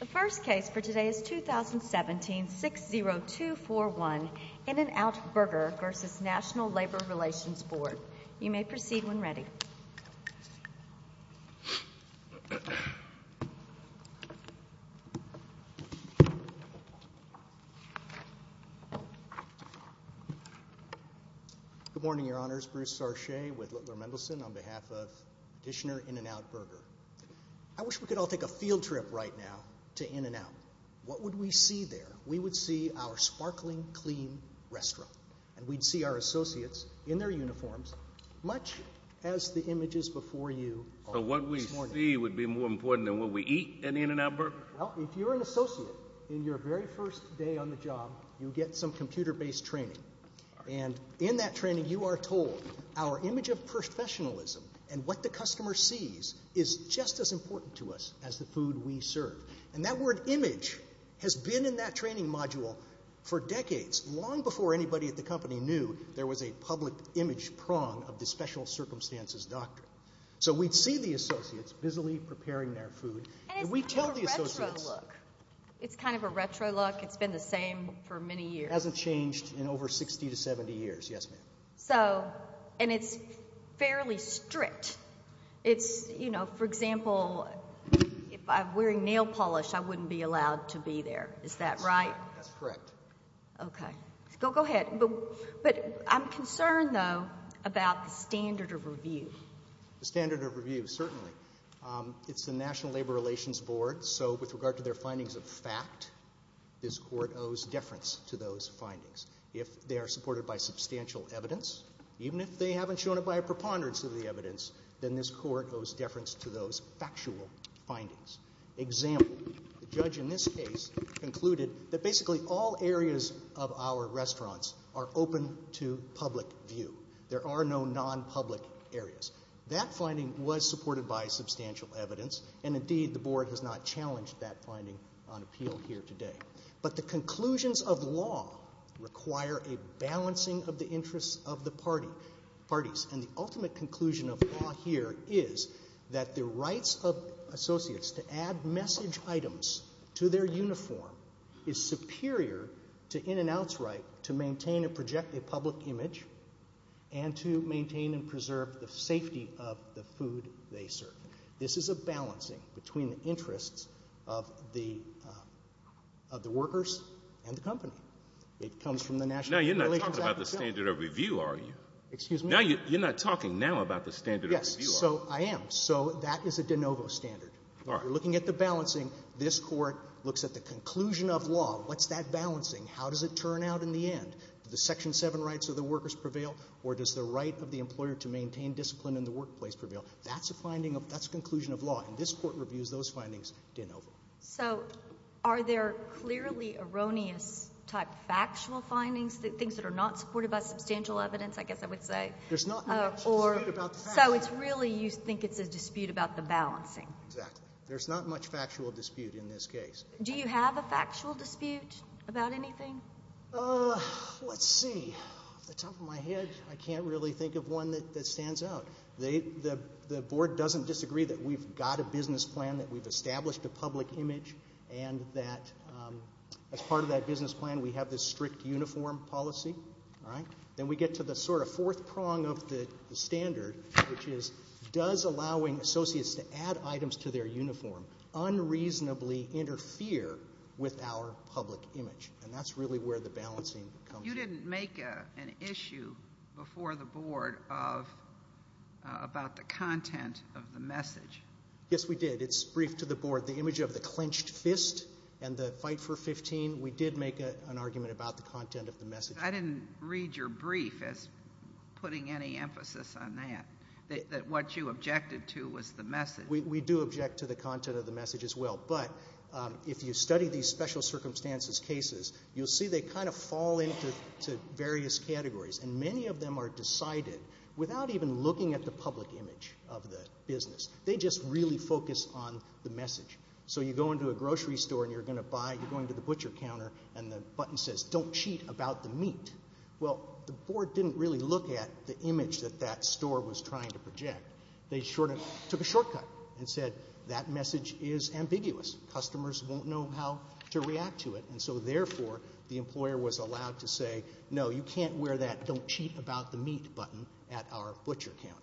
The first case for today is 2017-60241, In-N-Out Burger v. National Labor Relations Board. You may proceed when ready. Good morning, Your Honors. Bruce Sarche with Littler Mendelsohn on behalf of petitioner In-N-Out Burger. I wish we could all take a field trip right now to In-N-Out. What would we see there? We would see our sparkling, clean restaurant. And we'd see our associates in their uniforms, much as the images before you all this morning. So what we see would be more important than what we eat at In-N-Out Burger? Well, if you're an associate, in your very first day on the job, you get some computer-based training. And in that training, you are told our image of professionalism and what the customer sees is just as important to us as the food we serve. And that word, image, has been in that training module for decades, long before anybody at the company knew there was a public image prong of the special circumstances doctrine. So we'd see the associates busily preparing their food. And it's kind of a retro look. It's kind of a retro look. It's been the same for many years. It hasn't changed in over 60 to 70 years, yes, ma'am. So, and it's fairly strict. It's, you know, for example, if I'm wearing nail polish, I wouldn't be allowed to be there. Is that right? That's correct. Okay. Go ahead. But I'm concerned, though, about the standard of review. The standard of review, certainly. It's the National Labor Relations Board. So with regard to their findings of fact, this court owes deference to those findings. If they are supported by substantial evidence, even if they haven't shown it by a preponderance of the evidence, then this court owes deference to those factual findings. Example, the judge in this case concluded that basically all areas of our restaurants are open to public view. There are no non-public areas. That finding was supported by substantial evidence. And, indeed, the board has not challenged that finding on appeal here today. But the conclusions of law require a balancing of the interests of the parties. And the ultimate conclusion of law here is that the rights of associates to add message items to their uniform is superior to in-and-outs right to maintain and project a public image and to maintain and preserve the safety of the food they serve. This is a balancing between the interests of the workers and the company. It comes from the National Labor Relations Act itself. Now you're not talking about the standard of review, are you? Excuse me? You're not talking now about the standard of review, are you? Yes, so I am. So that is a de novo standard. When you're looking at the balancing, this court looks at the conclusion of law. What's that balancing? How does it turn out in the end? Do the Section 7 rights of the workers prevail, or does the right of the employer to maintain discipline in the workplace prevail? That's a conclusion of law, and this court reviews those findings de novo. So are there clearly erroneous type factual findings, things that are not supported by substantial evidence, I guess I would say? There's not much dispute about the fact. So it's really you think it's a dispute about the balancing. Exactly. There's not much factual dispute in this case. Do you have a factual dispute about anything? Let's see. Off the top of my head, I can't really think of one that stands out. The Board doesn't disagree that we've got a business plan, that we've established a public image, and that as part of that business plan we have this strict uniform policy. Then we get to the sort of fourth prong of the standard, which is does allowing associates to add items to their uniform unreasonably interfere with our public image? And that's really where the balancing comes in. You didn't make an issue before the Board about the content of the message. Yes, we did. It's briefed to the Board. The image of the clenched fist and the fight for 15, we did make an argument about the content of the message. I didn't read your brief as putting any emphasis on that, that what you objected to was the message. We do object to the content of the message as well. But if you study these special circumstances cases, you'll see they kind of fall into various categories, and many of them are decided without even looking at the public image of the business. They just really focus on the message. So you go into a grocery store and you're going to buy, you're going to the butcher counter and the button says, Don't cheat about the meat. Well, the Board didn't really look at the image that that store was trying to project. They sort of took a shortcut and said, That message is ambiguous. Customers won't know how to react to it. And so, therefore, the employer was allowed to say, No, you can't wear that Don't Cheat About the Meat button at our butcher counter.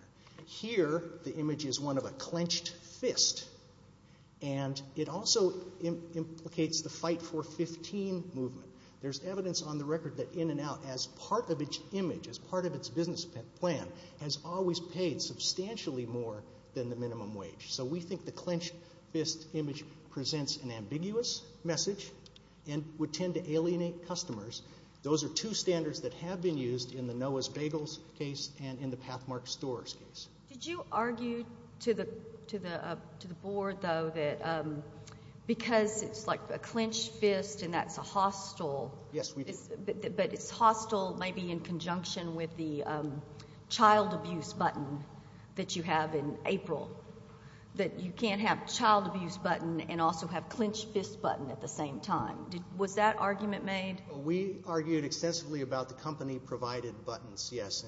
Here, the image is one of a clenched fist, and it also implicates the fight for 15 movement. There's evidence on the record that In-N-Out, as part of its image, as part of its business plan, has always paid substantially more than the minimum wage. So we think the clenched fist image presents an ambiguous message and would tend to alienate customers. Those are two standards that have been used in the Noah's Bagels case and in the Pathmark Stores case. Did you argue to the Board, though, that because it's like a clenched fist and that's a hostile, but it's hostile maybe in conjunction with the child abuse button that you have in April, that you can't have the child abuse button and also have clenched fist button at the same time? Was that argument made? We argued extensively about the company-provided buttons, yes.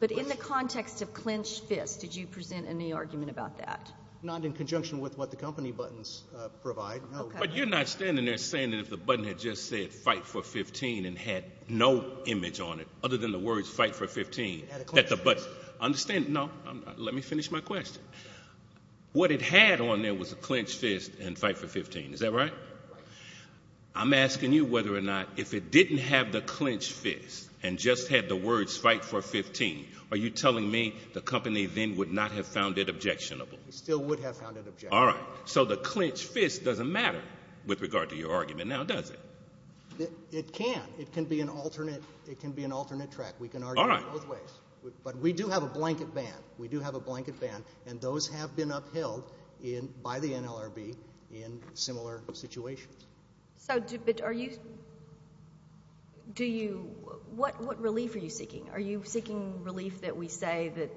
But in the context of clenched fist, did you present any argument about that? Not in conjunction with what the company buttons provide, no. But you're not standing there saying that if the button had just said, Fight for 15 and had no image on it other than the words Fight for 15 at the button. Understand? No. Let me finish my question. What it had on there was a clenched fist and Fight for 15. Is that right? Right. I'm asking you whether or not if it didn't have the clenched fist and just had the words Fight for 15, are you telling me the company then would not have found it objectionable? It still would have found it objectionable. All right. So the clenched fist doesn't matter with regard to your argument now, does it? It can. It can be an alternate track. We can argue both ways. But we do have a blanket ban. We do have a blanket ban, and those have been upheld by the NLRB in similar situations. What relief are you seeking? Are you seeking relief that we say that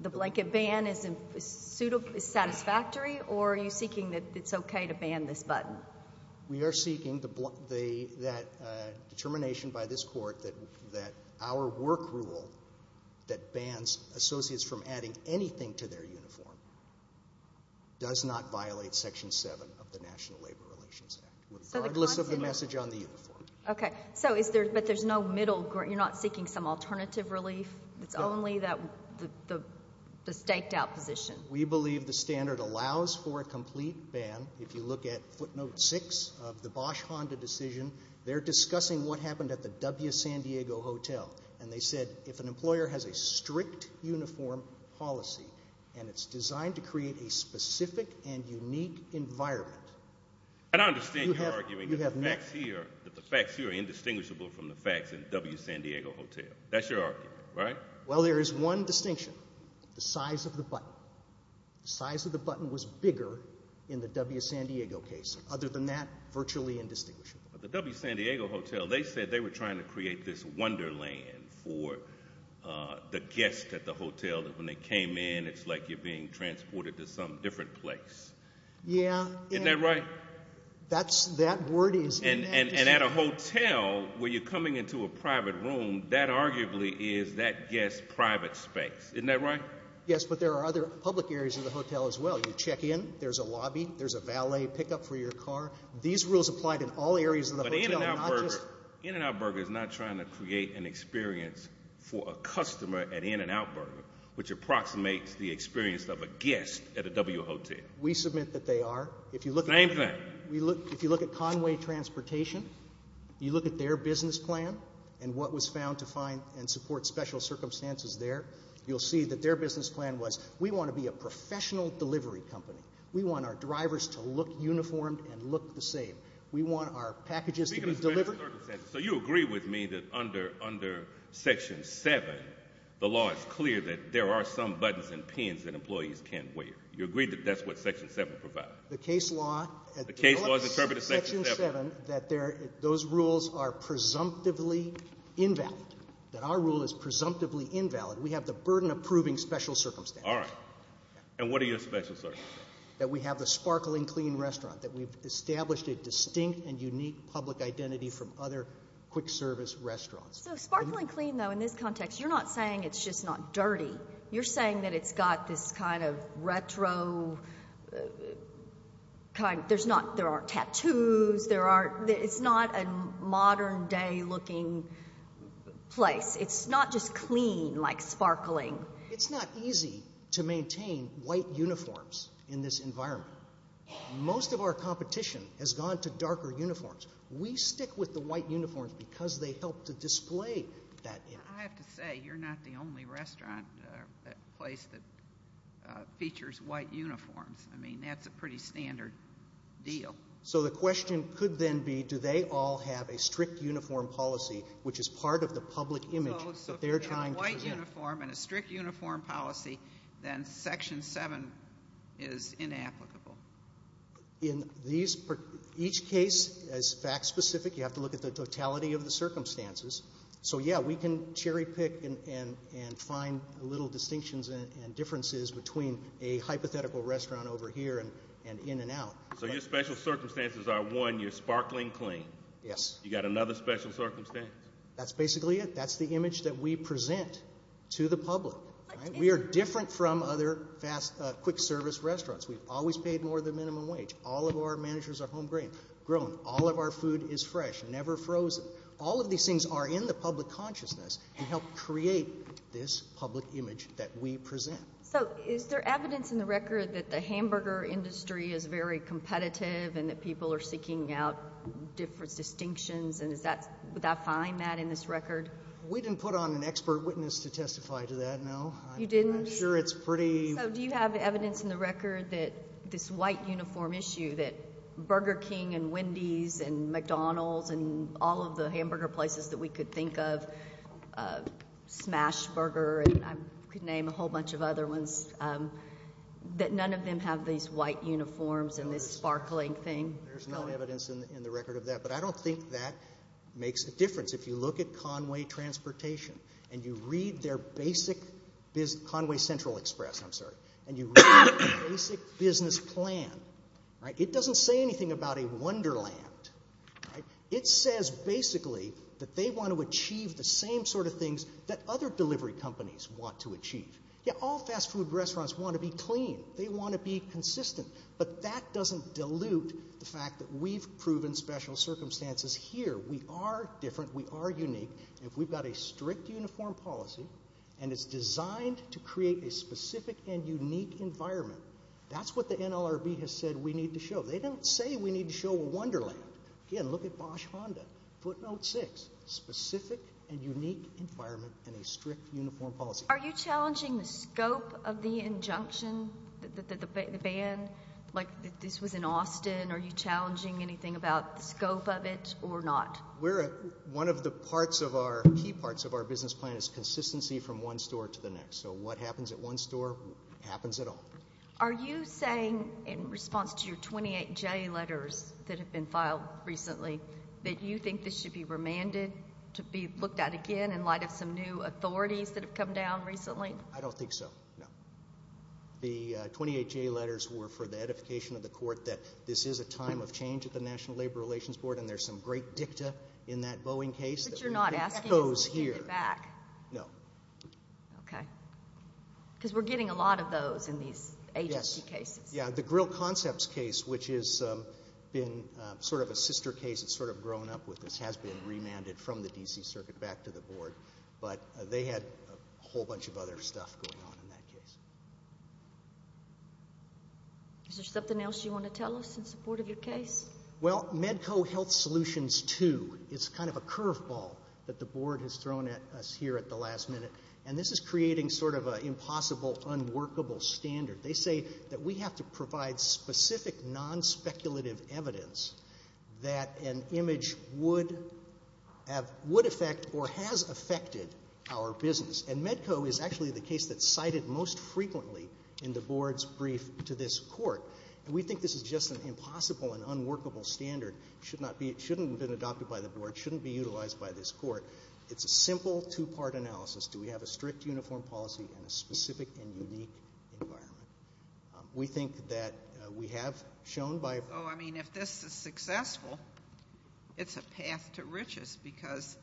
the blanket ban is satisfactory, or are you seeking that it's okay to ban this button? We are seeking that determination by this court that our work rule that bans associates from adding anything to their uniform does not violate Section 7 of the National Labor Relations Act, regardless of the message on the uniform. Okay. But there's no middle ground? You're not seeking some alternative relief? It's only the staked out position? We believe the standard allows for a complete ban. If you look at footnote 6 of the Bosch-Honda decision, they're discussing what happened at the W. San Diego Hotel, and they said if an employer has a strict uniform policy and it's designed to create a specific and unique environment. I don't understand your argument that the facts here are indistinguishable from the facts in W. San Diego Hotel. That's your argument, right? Well, there is one distinction, the size of the button. The size of the button was bigger in the W. San Diego case. Other than that, virtually indistinguishable. But the W. San Diego Hotel, they said they were trying to create this wonderland for the guests at the hotel that when they came in, it's like you're being transported to some different place. Yeah. Isn't that right? That word is in that decision. And at a hotel where you're coming into a private room, that arguably is that guest's private space. Isn't that right? Yes, but there are other public areas of the hotel as well. You check in, there's a lobby, there's a valet pickup for your car. These rules apply to all areas of the hotel. But In-N-Out Burger is not trying to create an experience for a customer at In-N-Out Burger, which approximates the experience of a guest at a W. Hotel. We submit that they are. Same thing. If you look at Conway Transportation, you look at their business plan and what was found to find and support special circumstances there, you'll see that their business plan was, we want to be a professional delivery company. We want our drivers to look uniformed and look the same. We want our packages to be delivered. So you agree with me that under Section 7, the law is clear that there are some buttons and pins that employees can't wear. You agree that that's what Section 7 provides? The case law. The case law has interpreted Section 7. That those rules are presumptively invalid. That our rule is presumptively invalid. We have the burden of proving special circumstances. All right. And what are your special circumstances? That we have the sparkling clean restaurant. That we've established a distinct and unique public identity from other quick service restaurants. So sparkling clean, though, in this context, you're not saying it's just not dirty. You're saying that it's got this kind of retro, there aren't tattoos. It's not a modern day looking place. It's not just clean like sparkling. It's not easy to maintain white uniforms in this environment. Most of our competition has gone to darker uniforms. We stick with the white uniforms because they help to display that image. I have to say, you're not the only restaurant or place that features white uniforms. I mean, that's a pretty standard deal. So the question could then be, do they all have a strict uniform policy, which is part of the public image that they're trying to promote. So if they're a white uniform and a strict uniform policy, then Section 7 is inapplicable. In each case, as fact specific, you have to look at the totality of the circumstances. So, yeah, we can cherry pick and find little distinctions and differences between a hypothetical restaurant over here and in and out. So your special circumstances are, one, you're sparkling clean. Yes. You got another special circumstance? That's basically it. That's the image that we present to the public. We are different from other quick service restaurants. We've always paid more than minimum wage. All of our managers are home grown. All of our food is fresh, never frozen. All of these things are in the public consciousness and help create this public image that we present. So is there evidence in the record that the hamburger industry is very competitive and that people are seeking out different distinctions? Would I find that in this record? We didn't put on an expert witness to testify to that, no. You didn't? I'm sure it's pretty— So do you have evidence in the record that this white uniform issue, that Burger King and Wendy's and McDonald's and all of the hamburger places that we could think of, Smashburger and I could name a whole bunch of other ones, that none of them have these white uniforms and this sparkling thing? There's no evidence in the record of that. But I don't think that makes a difference. If you look at Conway Transportation and you read their basic— Conway Central Express, I'm sorry— and you read their basic business plan, it doesn't say anything about a wonderland. It says basically that they want to achieve the same sort of things that other delivery companies want to achieve. Yeah, all fast food restaurants want to be clean. They want to be consistent. But that doesn't dilute the fact that we've proven special circumstances here. We are different. We are unique. If we've got a strict uniform policy and it's designed to create a specific and unique environment, that's what the NLRB has said we need to show. They don't say we need to show a wonderland. Again, look at Bosch Honda, footnote six, specific and unique environment and a strict uniform policy. Are you challenging the scope of the injunction, the ban? Like this was in Austin. Are you challenging anything about the scope of it or not? One of the key parts of our business plan is consistency from one store to the next. So what happens at one store happens at all. Are you saying in response to your 28 J letters that have been filed recently that you think this should be remanded to be looked at again in light of some new authorities that have come down recently? I don't think so, no. The 28 J letters were for the edification of the court that this is a time of change at the National Labor Relations Board and there's some great dicta in that Boeing case that goes here. But you're not asking us to take it back? No. Okay. Because we're getting a lot of those in these agency cases. Yes. The Grill Concepts case, which has been sort of a sister case, it's sort of grown up with this, has been remanded from the D.C. Circuit back to the Board. But they had a whole bunch of other stuff going on in that case. Is there something else you want to tell us in support of your case? Well, Medco Health Solutions 2 is kind of a curveball that the Board has thrown at us here at the last minute, and this is creating sort of an impossible, unworkable standard. They say that we have to provide specific, non-speculative evidence that an image would affect or has affected our business. And Medco is actually the case that's cited most frequently in the Board's brief to this court. And we think this is just an impossible and unworkable standard. It shouldn't have been adopted by the Board. It shouldn't be utilized by this court. It's a simple two-part analysis. Do we have a strict uniform policy and a specific and unique environment? We think that we have shown by... So, I mean, if this is successful, it's a path to riches because,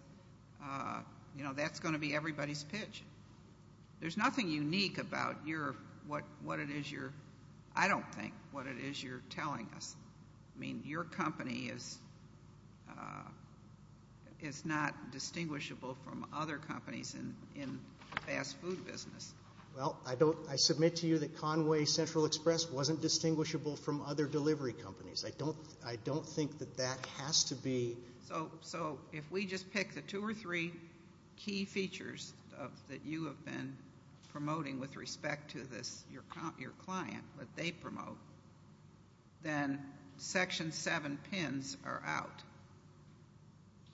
you know, that's going to be everybody's pitch. There's nothing unique about what it is you're telling us. I mean, your company is not distinguishable from other companies in the fast food business. Well, I submit to you that Conway Central Express wasn't distinguishable from other delivery companies. I don't think that that has to be... So if we just pick the two or three key features that you have been promoting with respect to your client, what they promote, then Section 7 pins are out.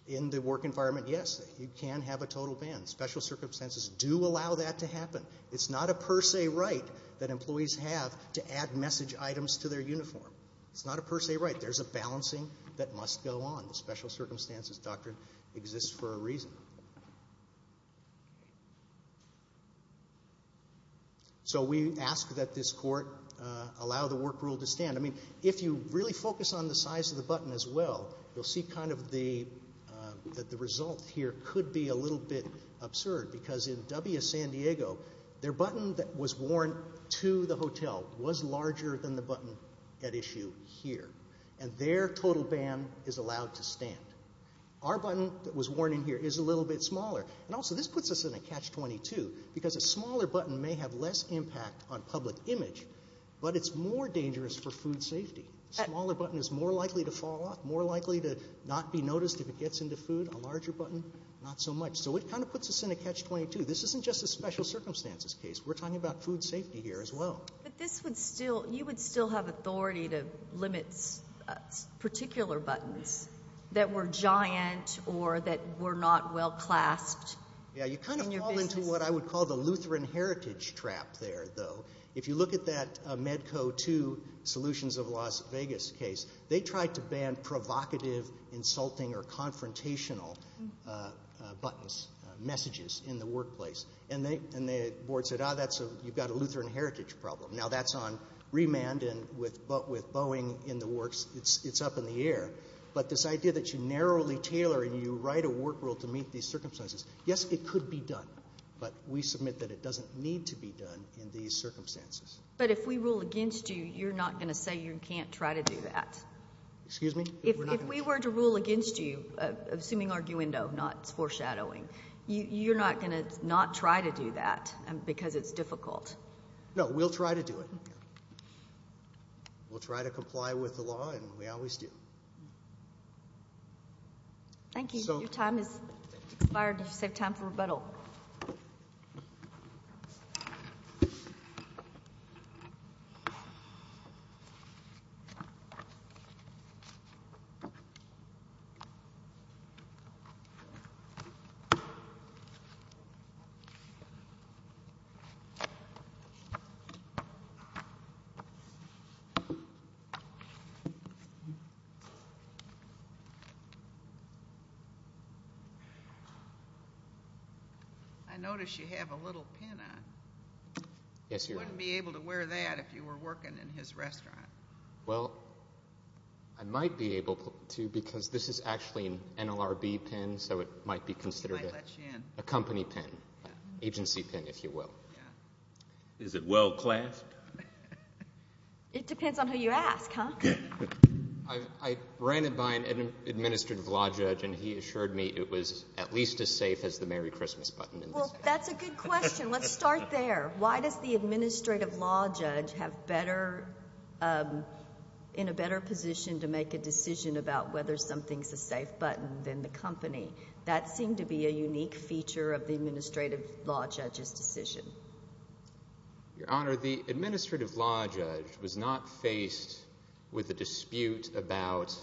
In the work environment, yes, you can have a total ban. Special circumstances do allow that to happen. It's not a per se right that employees have to add message items to their uniform. It's not a per se right. There's a balancing that must go on. The special circumstances doctrine exists for a reason. So we ask that this court allow the work rule to stand. I mean, if you really focus on the size of the button as well, you'll see kind of that the result here could be a little bit absurd because in W San Diego, their button that was worn to the hotel was larger than the button at issue here, and their total ban is allowed to stand. Our button that was worn in here is a little bit smaller, and also this puts us in a catch-22 because a smaller button may have less impact on public image, but it's more dangerous for food safety. A smaller button is more likely to fall off, more likely to not be noticed if it gets into food. A larger button, not so much. So it kind of puts us in a catch-22. This isn't just a special circumstances case. We're talking about food safety here as well. But you would still have authority to limit particular buttons that were giant or that were not well clasped. Yeah, you kind of fall into what I would call the Lutheran heritage trap there, though. If you look at that Medco II solutions of Las Vegas case, they tried to ban provocative, insulting, or confrontational buttons, messages in the workplace, and the board said, ah, you've got a Lutheran heritage problem. Now that's on remand, but with Boeing in the works, it's up in the air. But this idea that you narrowly tailor and you write a work rule to meet these circumstances, yes, it could be done, but we submit that it doesn't need to be done in these circumstances. But if we rule against you, you're not going to say you can't try to do that? Excuse me? If we were to rule against you, assuming arguendo, not foreshadowing, you're not going to not try to do that because it's difficult? No, we'll try to do it. We'll try to comply with the law, and we always do. Thank you. Your time has expired. You've saved time for rebuttal. I notice you have a little pin on. Yes, Your Honor. You wouldn't be able to wear that if you were working in his restaurant. Well, I might be able to because this is actually an NLRB pin, so it might be considered a company pin, agency pin, if you will. Yeah. Is it well-clasped? It depends on who you ask, huh? I ran it by an administrative law judge, and he assured me it was at least as safe as the Merry Christmas button. Well, that's a good question. Let's start there. Why does the administrative law judge have better – in a better position to make a decision about whether something's a safe button than the company? That seemed to be a unique feature of the administrative law judge's decision. Your Honor, the administrative law judge was not faced with a dispute about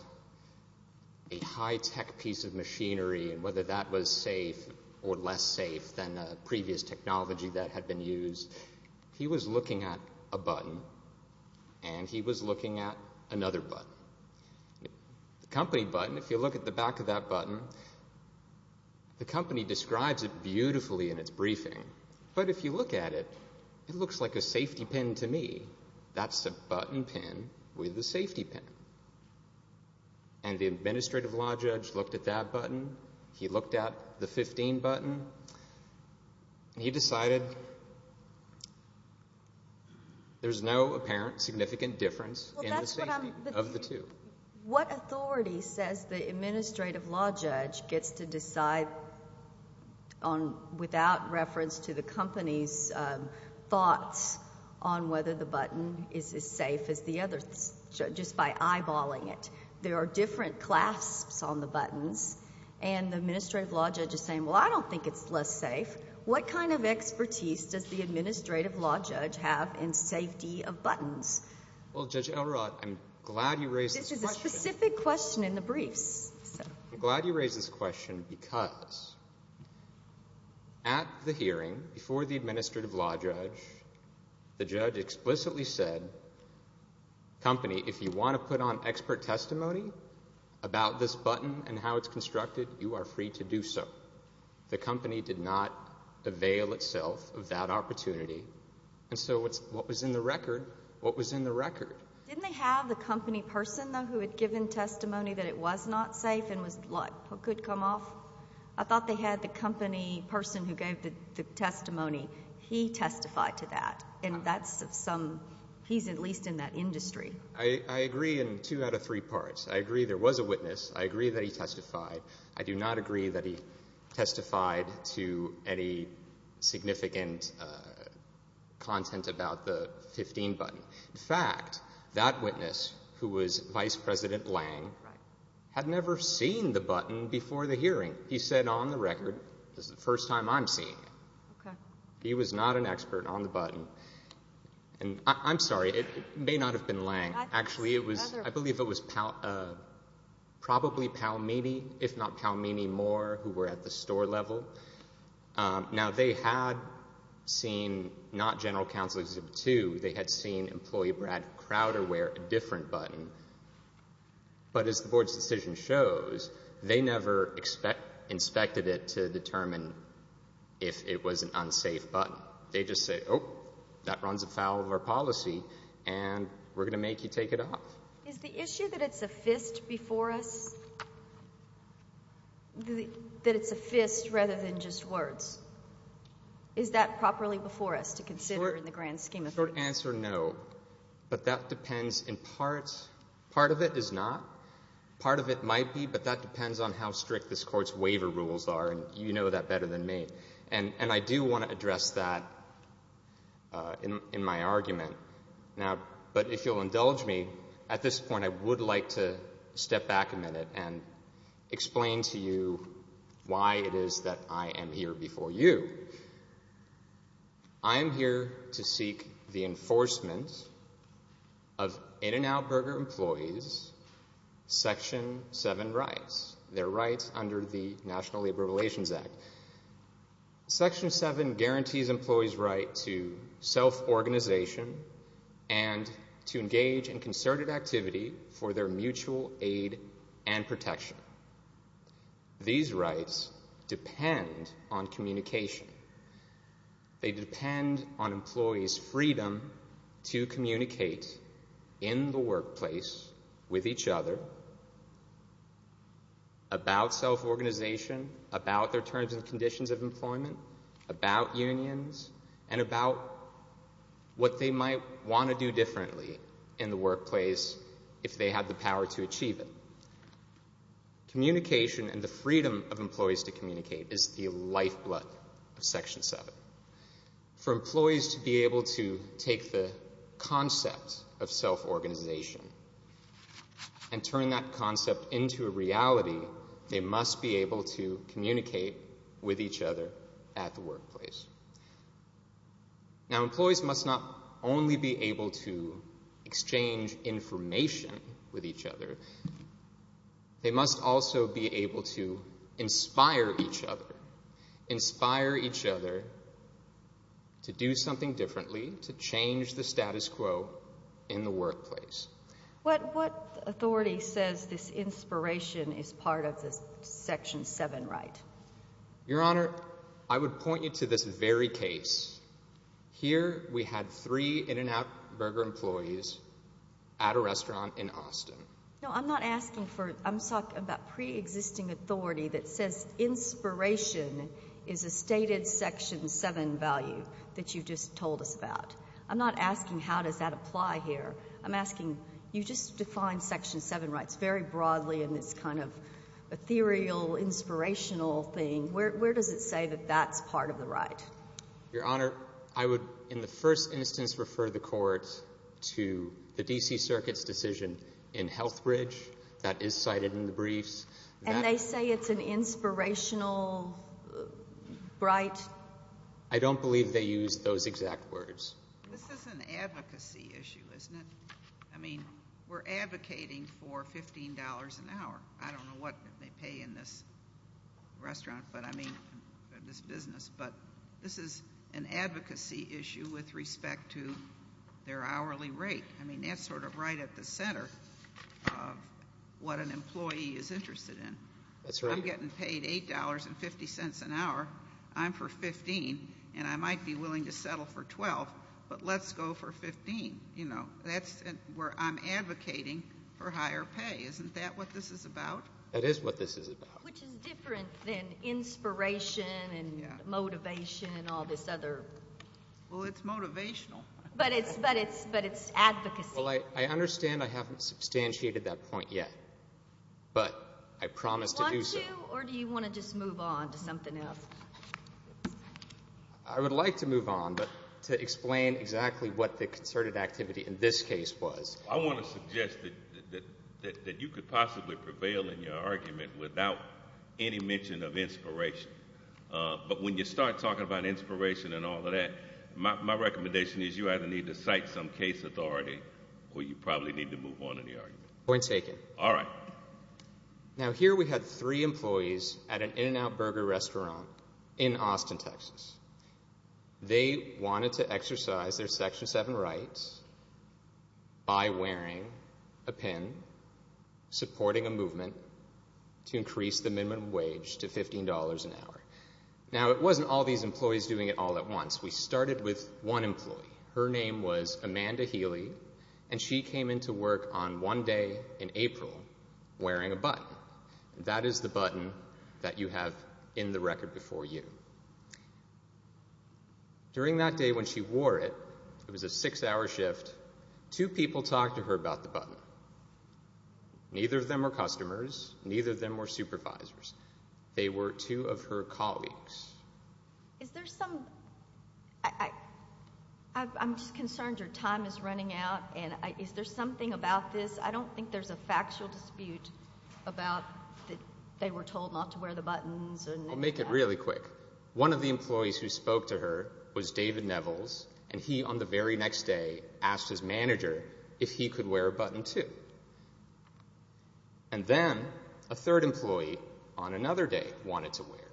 a high-tech piece of machinery and whether that was safe or less safe than a previous technology that had been used. He was looking at a button, and he was looking at another button. The company button, if you look at the back of that button, the company describes it beautifully in its briefing. But if you look at it, it looks like a safety pin to me. That's a button pin with a safety pin. And the administrative law judge looked at that button. He looked at the 15 button. He decided there's no apparent significant difference in the safety of the two. What authority says the administrative law judge gets to decide without reference to the company's thoughts on whether the button is as safe as the other, just by eyeballing it? There are different clasps on the buttons, and the administrative law judge is saying, well, I don't think it's less safe. What kind of expertise does the administrative law judge have in safety of buttons? Well, Judge Elrod, I'm glad you raised this question. This is a specific question in the briefs. I'm glad you raised this question because at the hearing, before the administrative law judge, the judge explicitly said, company, if you want to put on expert testimony about this button and how it's constructed, you are free to do so. The company did not avail itself of that opportunity. So what was in the record, what was in the record? Didn't they have the company person, though, who had given testimony that it was not safe and could come off? I thought they had the company person who gave the testimony. He testified to that, and he's at least in that industry. I agree in two out of three parts. I agree there was a witness. I agree that he testified. I do not agree that he testified to any significant content about the 15 button. In fact, that witness, who was Vice President Lange, had never seen the button before the hearing. He said, on the record, this is the first time I'm seeing it. He was not an expert on the button. I'm sorry, it may not have been Lange. Actually, I believe it was probably Palmini, if not Palmini Moore, who were at the store level. Now, they had seen not General Counsel Exhibit 2. They had seen Employee Brad Crowder wear a different button. But as the Board's decision shows, they never inspected it to determine if it was an unsafe button. They just said, oh, that runs afoul of our policy, and we're going to make you take it off. Is the issue that it's a fist before us, that it's a fist rather than just words, is that properly before us to consider in the grand scheme of things? Short answer, no. But that depends in parts. Part of it is not. Part of it might be, but that depends on how strict this Court's waiver rules are, and you know that better than me. And I do want to address that in my argument. But if you'll indulge me, at this point I would like to step back a minute and explain to you why it is that I am here before you. I am here to seek the enforcement of In-N-Out Burger employees' Section 7 rights, their rights under the National Labor Relations Act. Section 7 guarantees employees' right to self-organization and to engage in concerted activity for their mutual aid and protection. These rights depend on communication. They depend on employees' freedom to communicate in the workplace with each other about self-organization, about their terms and conditions of employment, about unions, and about what they might want to do differently in the workplace if they had the power to achieve it. Communication and the freedom of employees to communicate is the lifeblood of Section 7. For employees to be able to take the concept of self-organization and turn that concept into a reality, they must be able to communicate with each other at the workplace. Now, employees must not only be able to exchange information with each other. They must also be able to inspire each other, inspire each other to do something differently, to change the status quo in the workplace. What authority says this inspiration is part of the Section 7 right? Your Honor, I would point you to this very case. Here, we had three In-N-Out Burger employees at a restaurant in Austin. No, I'm not asking for it. I'm talking about pre-existing authority that says inspiration is a stated Section 7 value that you just told us about. I'm not asking how does that apply here. I'm asking, you just defined Section 7 rights very broadly in this kind of ethereal, inspirational thing. Where does it say that that's part of the right? Your Honor, I would, in the first instance, refer the court to the D.C. Circuit's decision in Healthbridge that is cited in the briefs. And they say it's an inspirational, bright? I don't believe they use those exact words. This is an advocacy issue, isn't it? I mean, we're advocating for $15 an hour. I don't know what they pay in this restaurant, but I mean, this business. But this is an advocacy issue with respect to their hourly rate. I mean, that's sort of right at the center of what an employee is interested in. That's right. I'm getting paid $8.50 an hour. I'm for $15, and I might be willing to settle for $12, but let's go for $15. You know, that's where I'm advocating for higher pay. Isn't that what this is about? That is what this is about. Which is different than inspiration and motivation and all this other. Well, it's motivational. But it's advocacy. Well, I understand I haven't substantiated that point yet, but I promise to do so. Do you want to, or do you want to just move on to something else? I would like to move on, but to explain exactly what the concerted activity in this case was. I want to suggest that you could possibly prevail in your argument without any mention of inspiration. But when you start talking about inspiration and all of that, my recommendation is you either need to cite some case authority, or you probably need to move on in the argument. Point taken. All right. Now, here we had three employees at an In-N-Out Burger restaurant in Austin, Texas. They wanted to exercise their Section 7 rights by wearing a pin, supporting a movement, to increase the minimum wage to $15 an hour. Now, it wasn't all these employees doing it all at once. We started with one employee. Her name was Amanda Healy, and she came into work on one day in April wearing a button. That is the button that you have in the record before you. During that day when she wore it, it was a six-hour shift. Two people talked to her about the button. Neither of them were customers. Neither of them were supervisors. They were two of her colleagues. I'm just concerned your time is running out. Is there something about this? I don't think there's a factual dispute about that they were told not to wear the buttons. Make it really quick. One of the employees who spoke to her was David Nevels, and he, on the very next day, asked his manager if he could wear a button too. And then a third employee, on another day, wanted to wear it.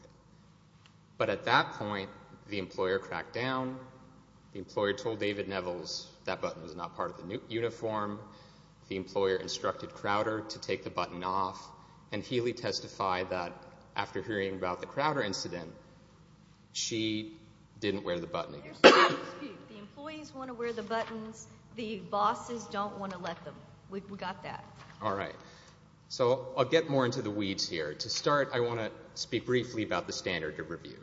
But at that point, the employer cracked down. The employer told David Nevels that button was not part of the uniform. The employer instructed Crowder to take the button off. And Healy testified that after hearing about the Crowder incident, she didn't wear the button. There's a dispute. The employees want to wear the buttons. The bosses don't want to let them. We've got that. All right. So I'll get more into the weeds here. To start, I want to speak briefly about the standard of review.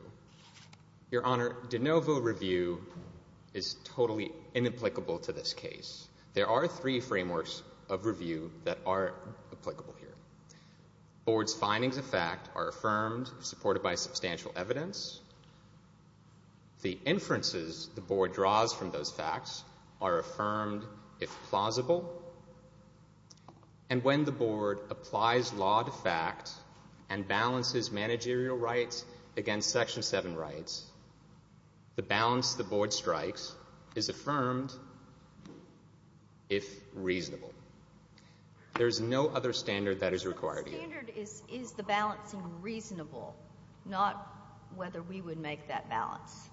Your Honor, de novo review is totally inapplicable to this case. There are three frameworks of review that are applicable here. Board's findings of fact are affirmed, supported by substantial evidence. The inferences the board draws from those facts are affirmed if plausible. And when the board applies law to fact and balances managerial rights against Section 7 rights, the balance the board strikes is affirmed if reasonable. There is no other standard that is required here. So the standard is the balancing reasonable, not whether we would make that balance.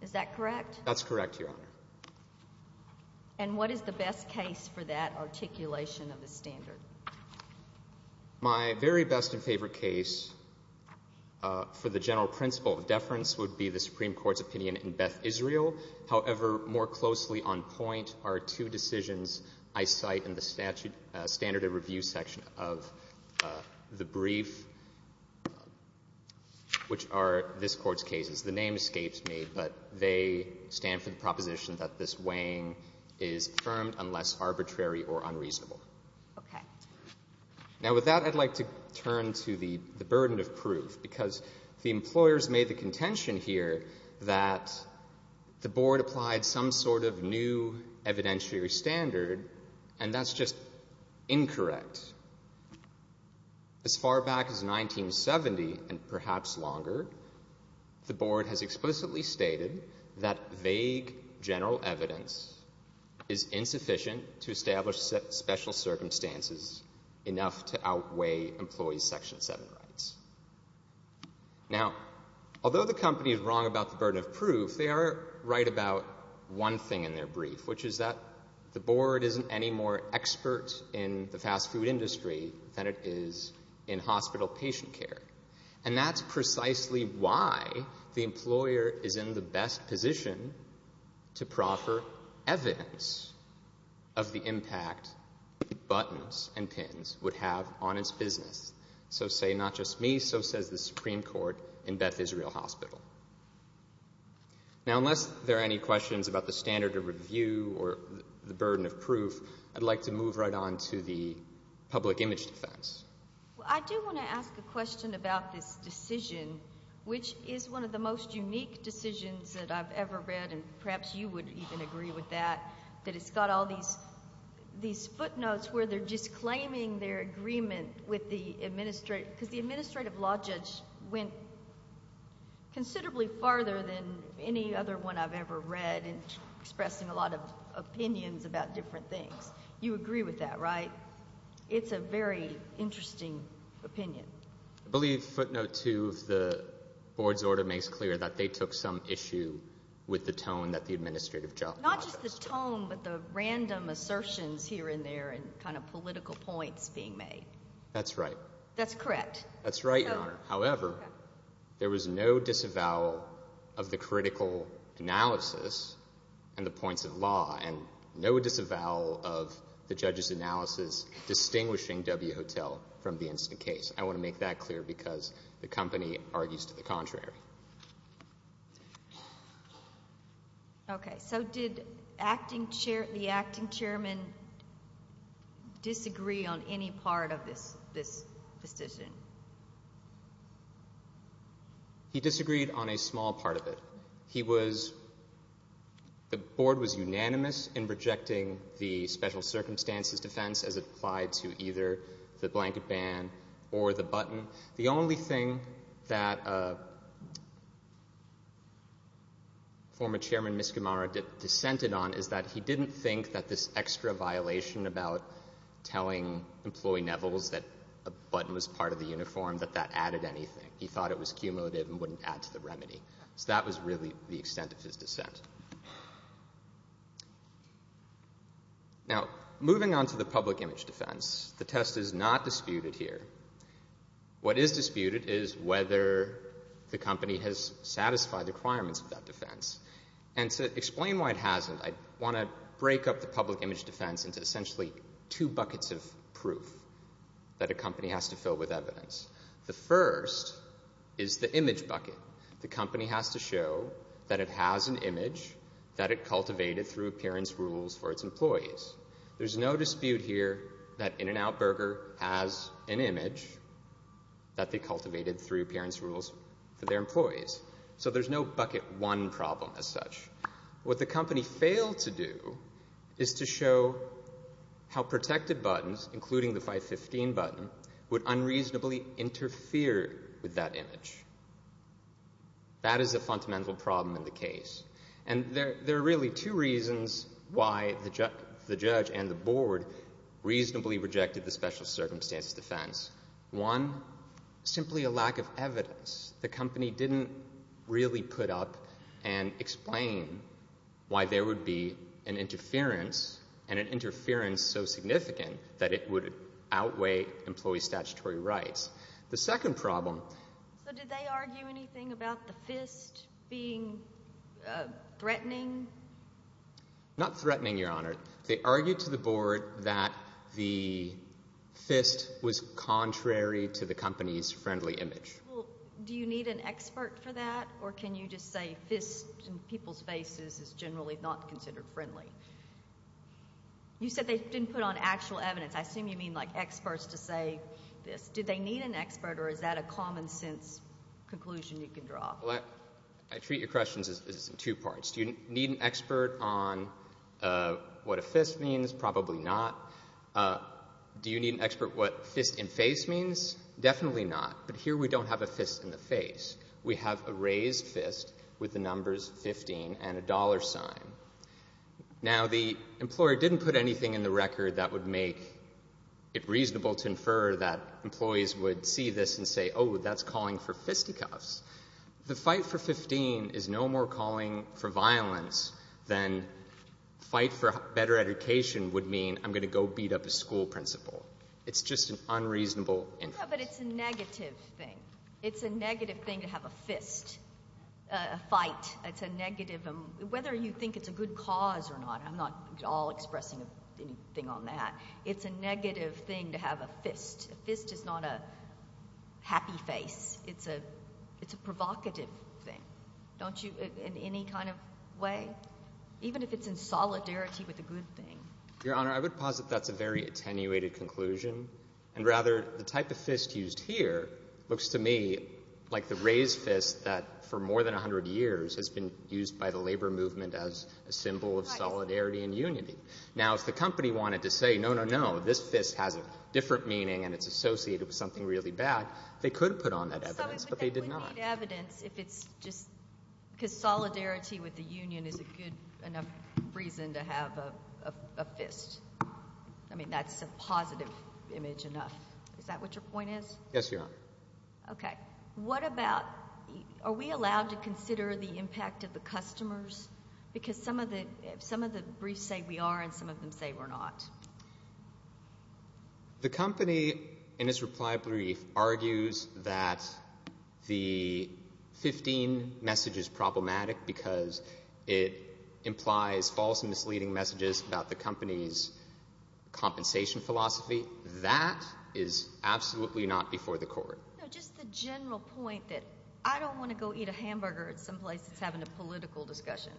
Is that correct? That's correct, Your Honor. And what is the best case for that articulation of the standard? My very best and favorite case for the general principle of deference would be the Supreme Court's opinion in Beth Israel. However, more closely on point are two decisions I cite in the standard of review section of the brief, which are this Court's cases. The name escapes me, but they stand for the proposition that this weighing is affirmed unless arbitrary or unreasonable. Okay. Now, with that, I'd like to turn to the burden of proof, because the employers made the contention here that the board applied some sort of new evidentiary standard, and that's just incorrect. As far back as 1970, and perhaps longer, the board has explicitly stated that vague general evidence is insufficient to establish special circumstances enough to outweigh employees' Section 7 rights. Now, although the company is wrong about the burden of proof, they are right about one thing in their brief, which is that the board isn't any more expert in the fast food industry than it is in hospital patient care. And that's precisely why the employer is in the best position to proffer evidence of the impact buttons and pins would have on its business. So say not just me, so says the Supreme Court in Beth Israel Hospital. Now, unless there are any questions about the standard of review or the burden of proof, I'd like to move right on to the public image defense. Well, I do want to ask a question about this decision, which is one of the most unique decisions that I've ever read, and perhaps you would even agree with that, that it's got all these footnotes where they're just claiming their agreement with the administrator, because the administrative law judge went considerably farther than any other one I've ever read, and expressing a lot of opinions about different things. You agree with that, right? It's a very interesting opinion. I believe footnote two of the board's order makes clear that they took some issue with the tone that the administrative judge. Not just the tone, but the random assertions here and there and kind of political points being made. That's right. That's correct. That's right, Your Honor. However, there was no disavowal of the critical analysis and the points of law and no disavowal of the judge's analysis distinguishing W Hotel from the instant case. I want to make that clear because the company argues to the contrary. Okay. So did the acting chairman disagree on any part of this decision? He disagreed on a small part of it. The board was unanimous in rejecting the special circumstances defense as applied to either the blanket ban or the button. The only thing that former chairman Miskimara dissented on is that he didn't think that this extra violation about telling employee Nevels that a button was part of the uniform, that that added anything. He thought it was cumulative and wouldn't add to the remedy. So that was really the extent of his dissent. Now, moving on to the public image defense, the test is not disputed here. What is disputed is whether the company has satisfied the requirements of that defense. And to explain why it hasn't, I want to break up the public image defense into essentially two buckets of proof that a company has to fill with evidence. The first is the image bucket. The company has to show that it has an image that it cultivated through appearance rules for its employees. There's no dispute here that In-N-Out Burger has an image that they cultivated through appearance rules for their employees. So there's no bucket one problem as such. What the company failed to do is to show how protected buttons, including the 515 button, would unreasonably interfere with that image. That is a fundamental problem in the case. And there are really two reasons why the judge and the board reasonably rejected the special circumstances defense. One, simply a lack of evidence. The company didn't really put up and explain why there would be an interference, and an interference so significant that it would outweigh employee statutory rights. The second problem. So did they argue anything about the fist being threatening? Not threatening, Your Honor. They argued to the board that the fist was contrary to the company's friendly image. Well, do you need an expert for that, or can you just say fist in people's faces is generally not considered friendly? You said they didn't put on actual evidence. I assume you mean like experts to say this. Did they need an expert, or is that a common sense conclusion you can draw? Well, I treat your questions in two parts. Do you need an expert on what a fist means? Probably not. Do you need an expert on what fist in face means? Definitely not. But here we don't have a fist in the face. We have a raised fist with the numbers 15 and a dollar sign. Now, the employer didn't put anything in the record that would make it reasonable to infer that employees would see this and say, oh, that's calling for fisticuffs. The fight for 15 is no more calling for violence than fight for better education would mean I'm going to go beat up a school principal. It's just an unreasonable inference. No, but it's a negative thing. It's a negative thing to have a fist, a fight. It's a negative. Whether you think it's a good cause or not, I'm not at all expressing anything on that. It's a negative thing to have a fist. A fist is not a happy face. It's a provocative thing, don't you, in any kind of way, even if it's in solidarity with a good thing. Your Honor, I would posit that's a very attenuated conclusion. And rather, the type of fist used here looks to me like the raised fist that, for more than 100 years, has been used by the labor movement as a symbol of solidarity and unity. Now, if the company wanted to say, no, no, no, this fist has a different meaning and it's associated with something really bad, they could have put on that evidence, but they did not. I don't need evidence if it's just because solidarity with the union is a good enough reason to have a fist. I mean, that's a positive image enough. Is that what your point is? Yes, Your Honor. Okay. What about are we allowed to consider the impact of the customers? Because some of the briefs say we are and some of them say we're not. The company, in its reply brief, argues that the 15 message is problematic because it implies false and misleading messages about the company's compensation philosophy. That is absolutely not before the court. No, just the general point that I don't want to go eat a hamburger at some place that's having a political discussion.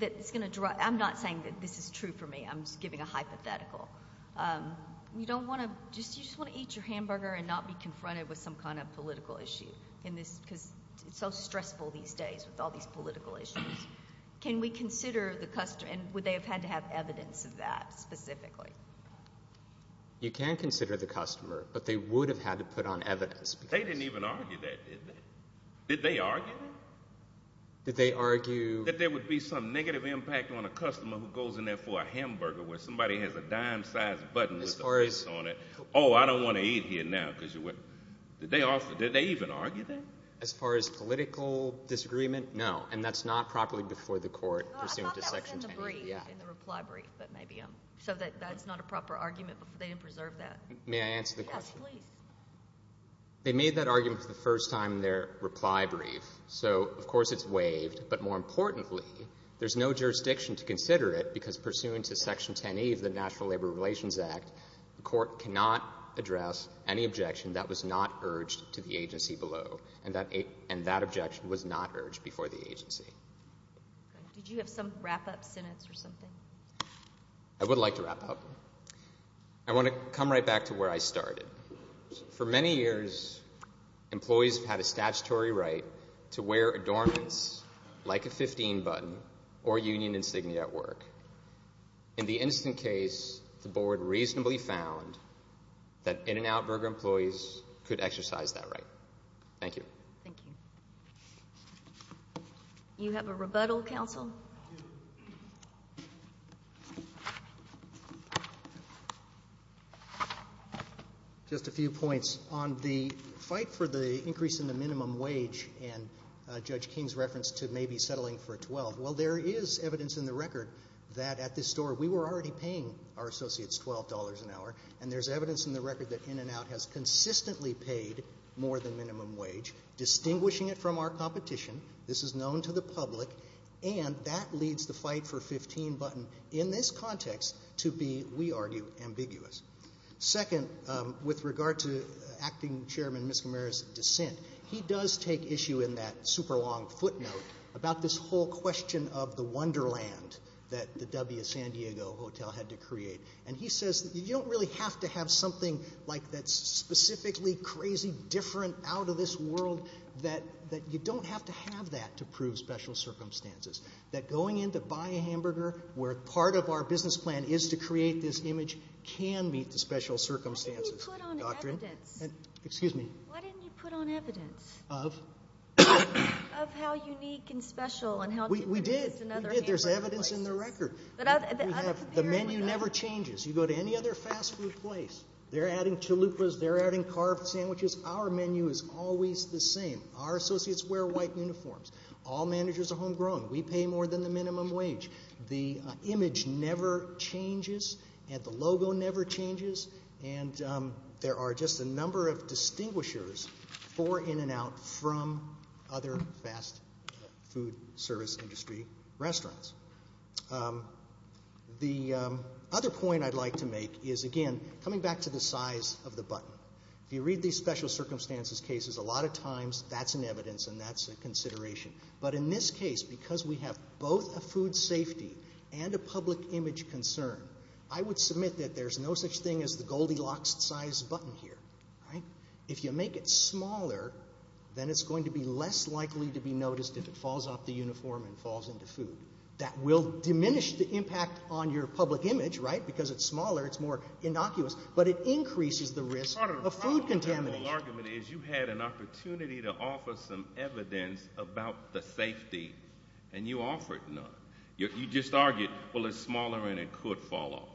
I'm not saying that this is true for me. I'm just giving a hypothetical. You just want to eat your hamburger and not be confronted with some kind of political issue because it's so stressful these days with all these political issues. Can we consider the customer and would they have had to have evidence of that specifically? You can consider the customer, but they would have had to put on evidence. They didn't even argue that, did they? Did they argue that? Did they argue that there would be some negative impact on a customer who goes in there for a hamburger where somebody has a dime-sized button with a face on it? Oh, I don't want to eat here now. Did they even argue that? As far as political disagreement, no, and that's not properly before the court pursuant to Section 10. I thought that was in the brief, in the reply brief, but maybe that's not a proper argument because they didn't preserve that. May I answer the question? Yes, please. They made that argument for the first time in their reply brief, so, of course, it's waived. But more importantly, there's no jurisdiction to consider it because pursuant to Section 10E of the National Labor Relations Act, the court cannot address any objection that was not urged to the agency below, and that objection was not urged before the agency. Did you have some wrap-up sentence or something? I would like to wrap up. I want to come right back to where I started. For many years, employees have had a statutory right to wear adornments like a 15-button or union insignia at work. In the instant case, the board reasonably found that In-N-Out Burger employees could exercise that right. Thank you. You have a rebuttal, counsel? Just a few points. On the fight for the increase in the minimum wage and Judge King's reference to maybe settling for $12, well, there is evidence in the record that at this store we were already paying our associates $12 an hour, and there's evidence in the record that In-N-Out has consistently paid more than minimum wage, distinguishing it from our competition. This is known to the public, and that leads the fight for 15-button in this context to be, we argue, ambiguous. Second, with regard to Acting Chairman Miscimarra's dissent, he does take issue in that super-long footnote about this whole question of the wonderland that the W. San Diego Hotel had to create, and he says that you don't really have to have something like that's specifically crazy, different, out of this world, that you don't have to have that to prove special circumstances. That going in to buy a hamburger where part of our business plan is to create this image can meet the special circumstances. Why didn't you put on evidence? Excuse me? Why didn't you put on evidence? Of how unique and special and how different it is than other hamburger places. We did. There's evidence in the record. The menu never changes. You go to any other fast food place, they're adding chalupas, they're adding carved sandwiches. Our menu is always the same. Our associates wear white uniforms. All managers are homegrown. We pay more than the minimum wage. The image never changes, and the logo never changes, and there are just a number of distinguishers for in and out from other fast food service industry restaurants. The other point I'd like to make is, again, coming back to the size of the button. If you read these special circumstances cases, a lot of times that's in evidence and that's a consideration. But in this case, because we have both a food safety and a public image concern, I would submit that there's no such thing as the Goldilocks-sized button here. If you make it smaller, then it's going to be less likely to be noticed if it falls off the uniform and falls into food. That will diminish the impact on your public image, right? Because it's smaller, it's more innocuous, but it increases the risk of food contamination. The wrong argument is you had an opportunity to offer some evidence about the safety, and you offered none. You just argued, well, it's smaller and it could fall off.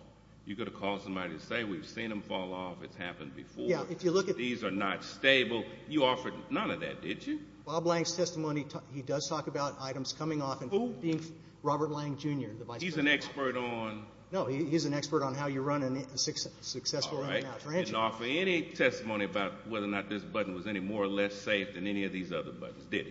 You could have called somebody and said, we've seen them fall off. It's happened before. These are not stable. You offered none of that, did you? Bob Lang's testimony, he does talk about items coming off and being Robert Lang, Jr., the vice president. He's an expert on? No, he's an expert on how you run a successful in and out franchise. He didn't offer any testimony about whether or not this button was any more or less safe than any of these other buttons, did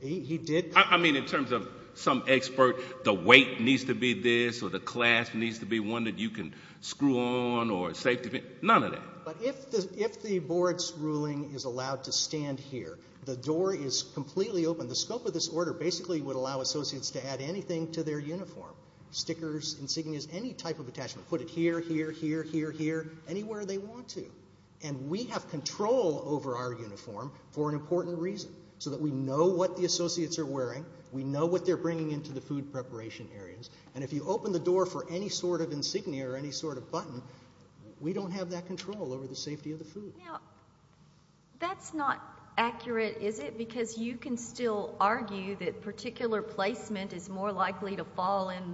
he? He did. I mean, in terms of some expert, the weight needs to be this or the clasp needs to be one that you can screw on or safety, none of that. But if the board's ruling is allowed to stand here, the door is completely open. The scope of this order basically would allow associates to add anything to their uniform, stickers, insignias, any type of attachment. Put it here, here, here, here, here, anywhere they want to. And we have control over our uniform for an important reason, so that we know what the associates are wearing. We know what they're bringing into the food preparation areas. And if you open the door for any sort of insignia or any sort of button, we don't have that control over the safety of the food. Now, that's not accurate, is it? Because you can still argue that particular placement is more likely to fall in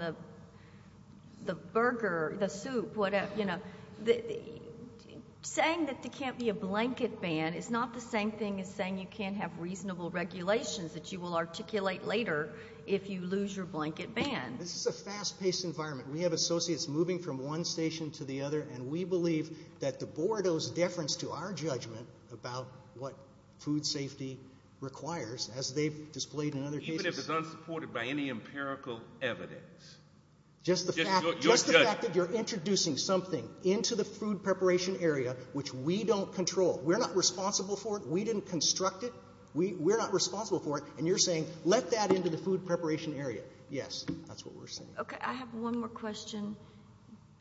the burger, the soup, whatever. Saying that there can't be a blanket ban is not the same thing as saying you can't have reasonable regulations that you will articulate later if you lose your blanket ban. This is a fast-paced environment. We have associates moving from one station to the other, and we believe that the board owes deference to our judgment about what food safety requires, as they've displayed in other cases. Even if it's unsupported by any empirical evidence? Just the fact that you're introducing something into the food preparation area which we don't control. We're not responsible for it. We didn't construct it. We're not responsible for it. And you're saying let that into the food preparation area. Yes, that's what we're saying. Okay, I have one more question.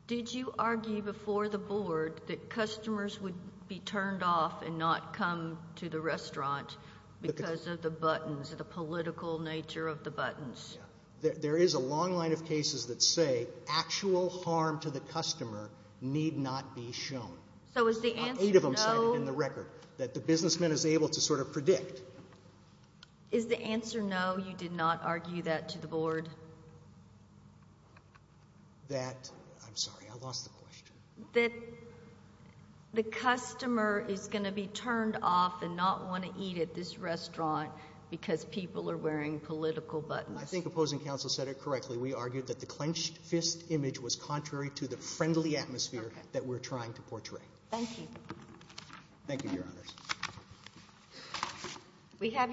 Did you argue before the board that customers would be turned off and not come to the restaurant because of the buttons, the political nature of the buttons? There is a long line of cases that say actual harm to the customer need not be shown. So is the answer no? Eight of them cited in the record that the businessman is able to sort of predict. Is the answer no, you did not argue that to the board? That, I'm sorry, I lost the question. That the customer is going to be turned off and not want to eat at this restaurant because people are wearing political buttons. I think opposing counsel said it correctly. We argued that the clenched fist image was contrary to the friendly atmosphere that we're trying to portray. Thank you. Thank you, Your Honors. We have you.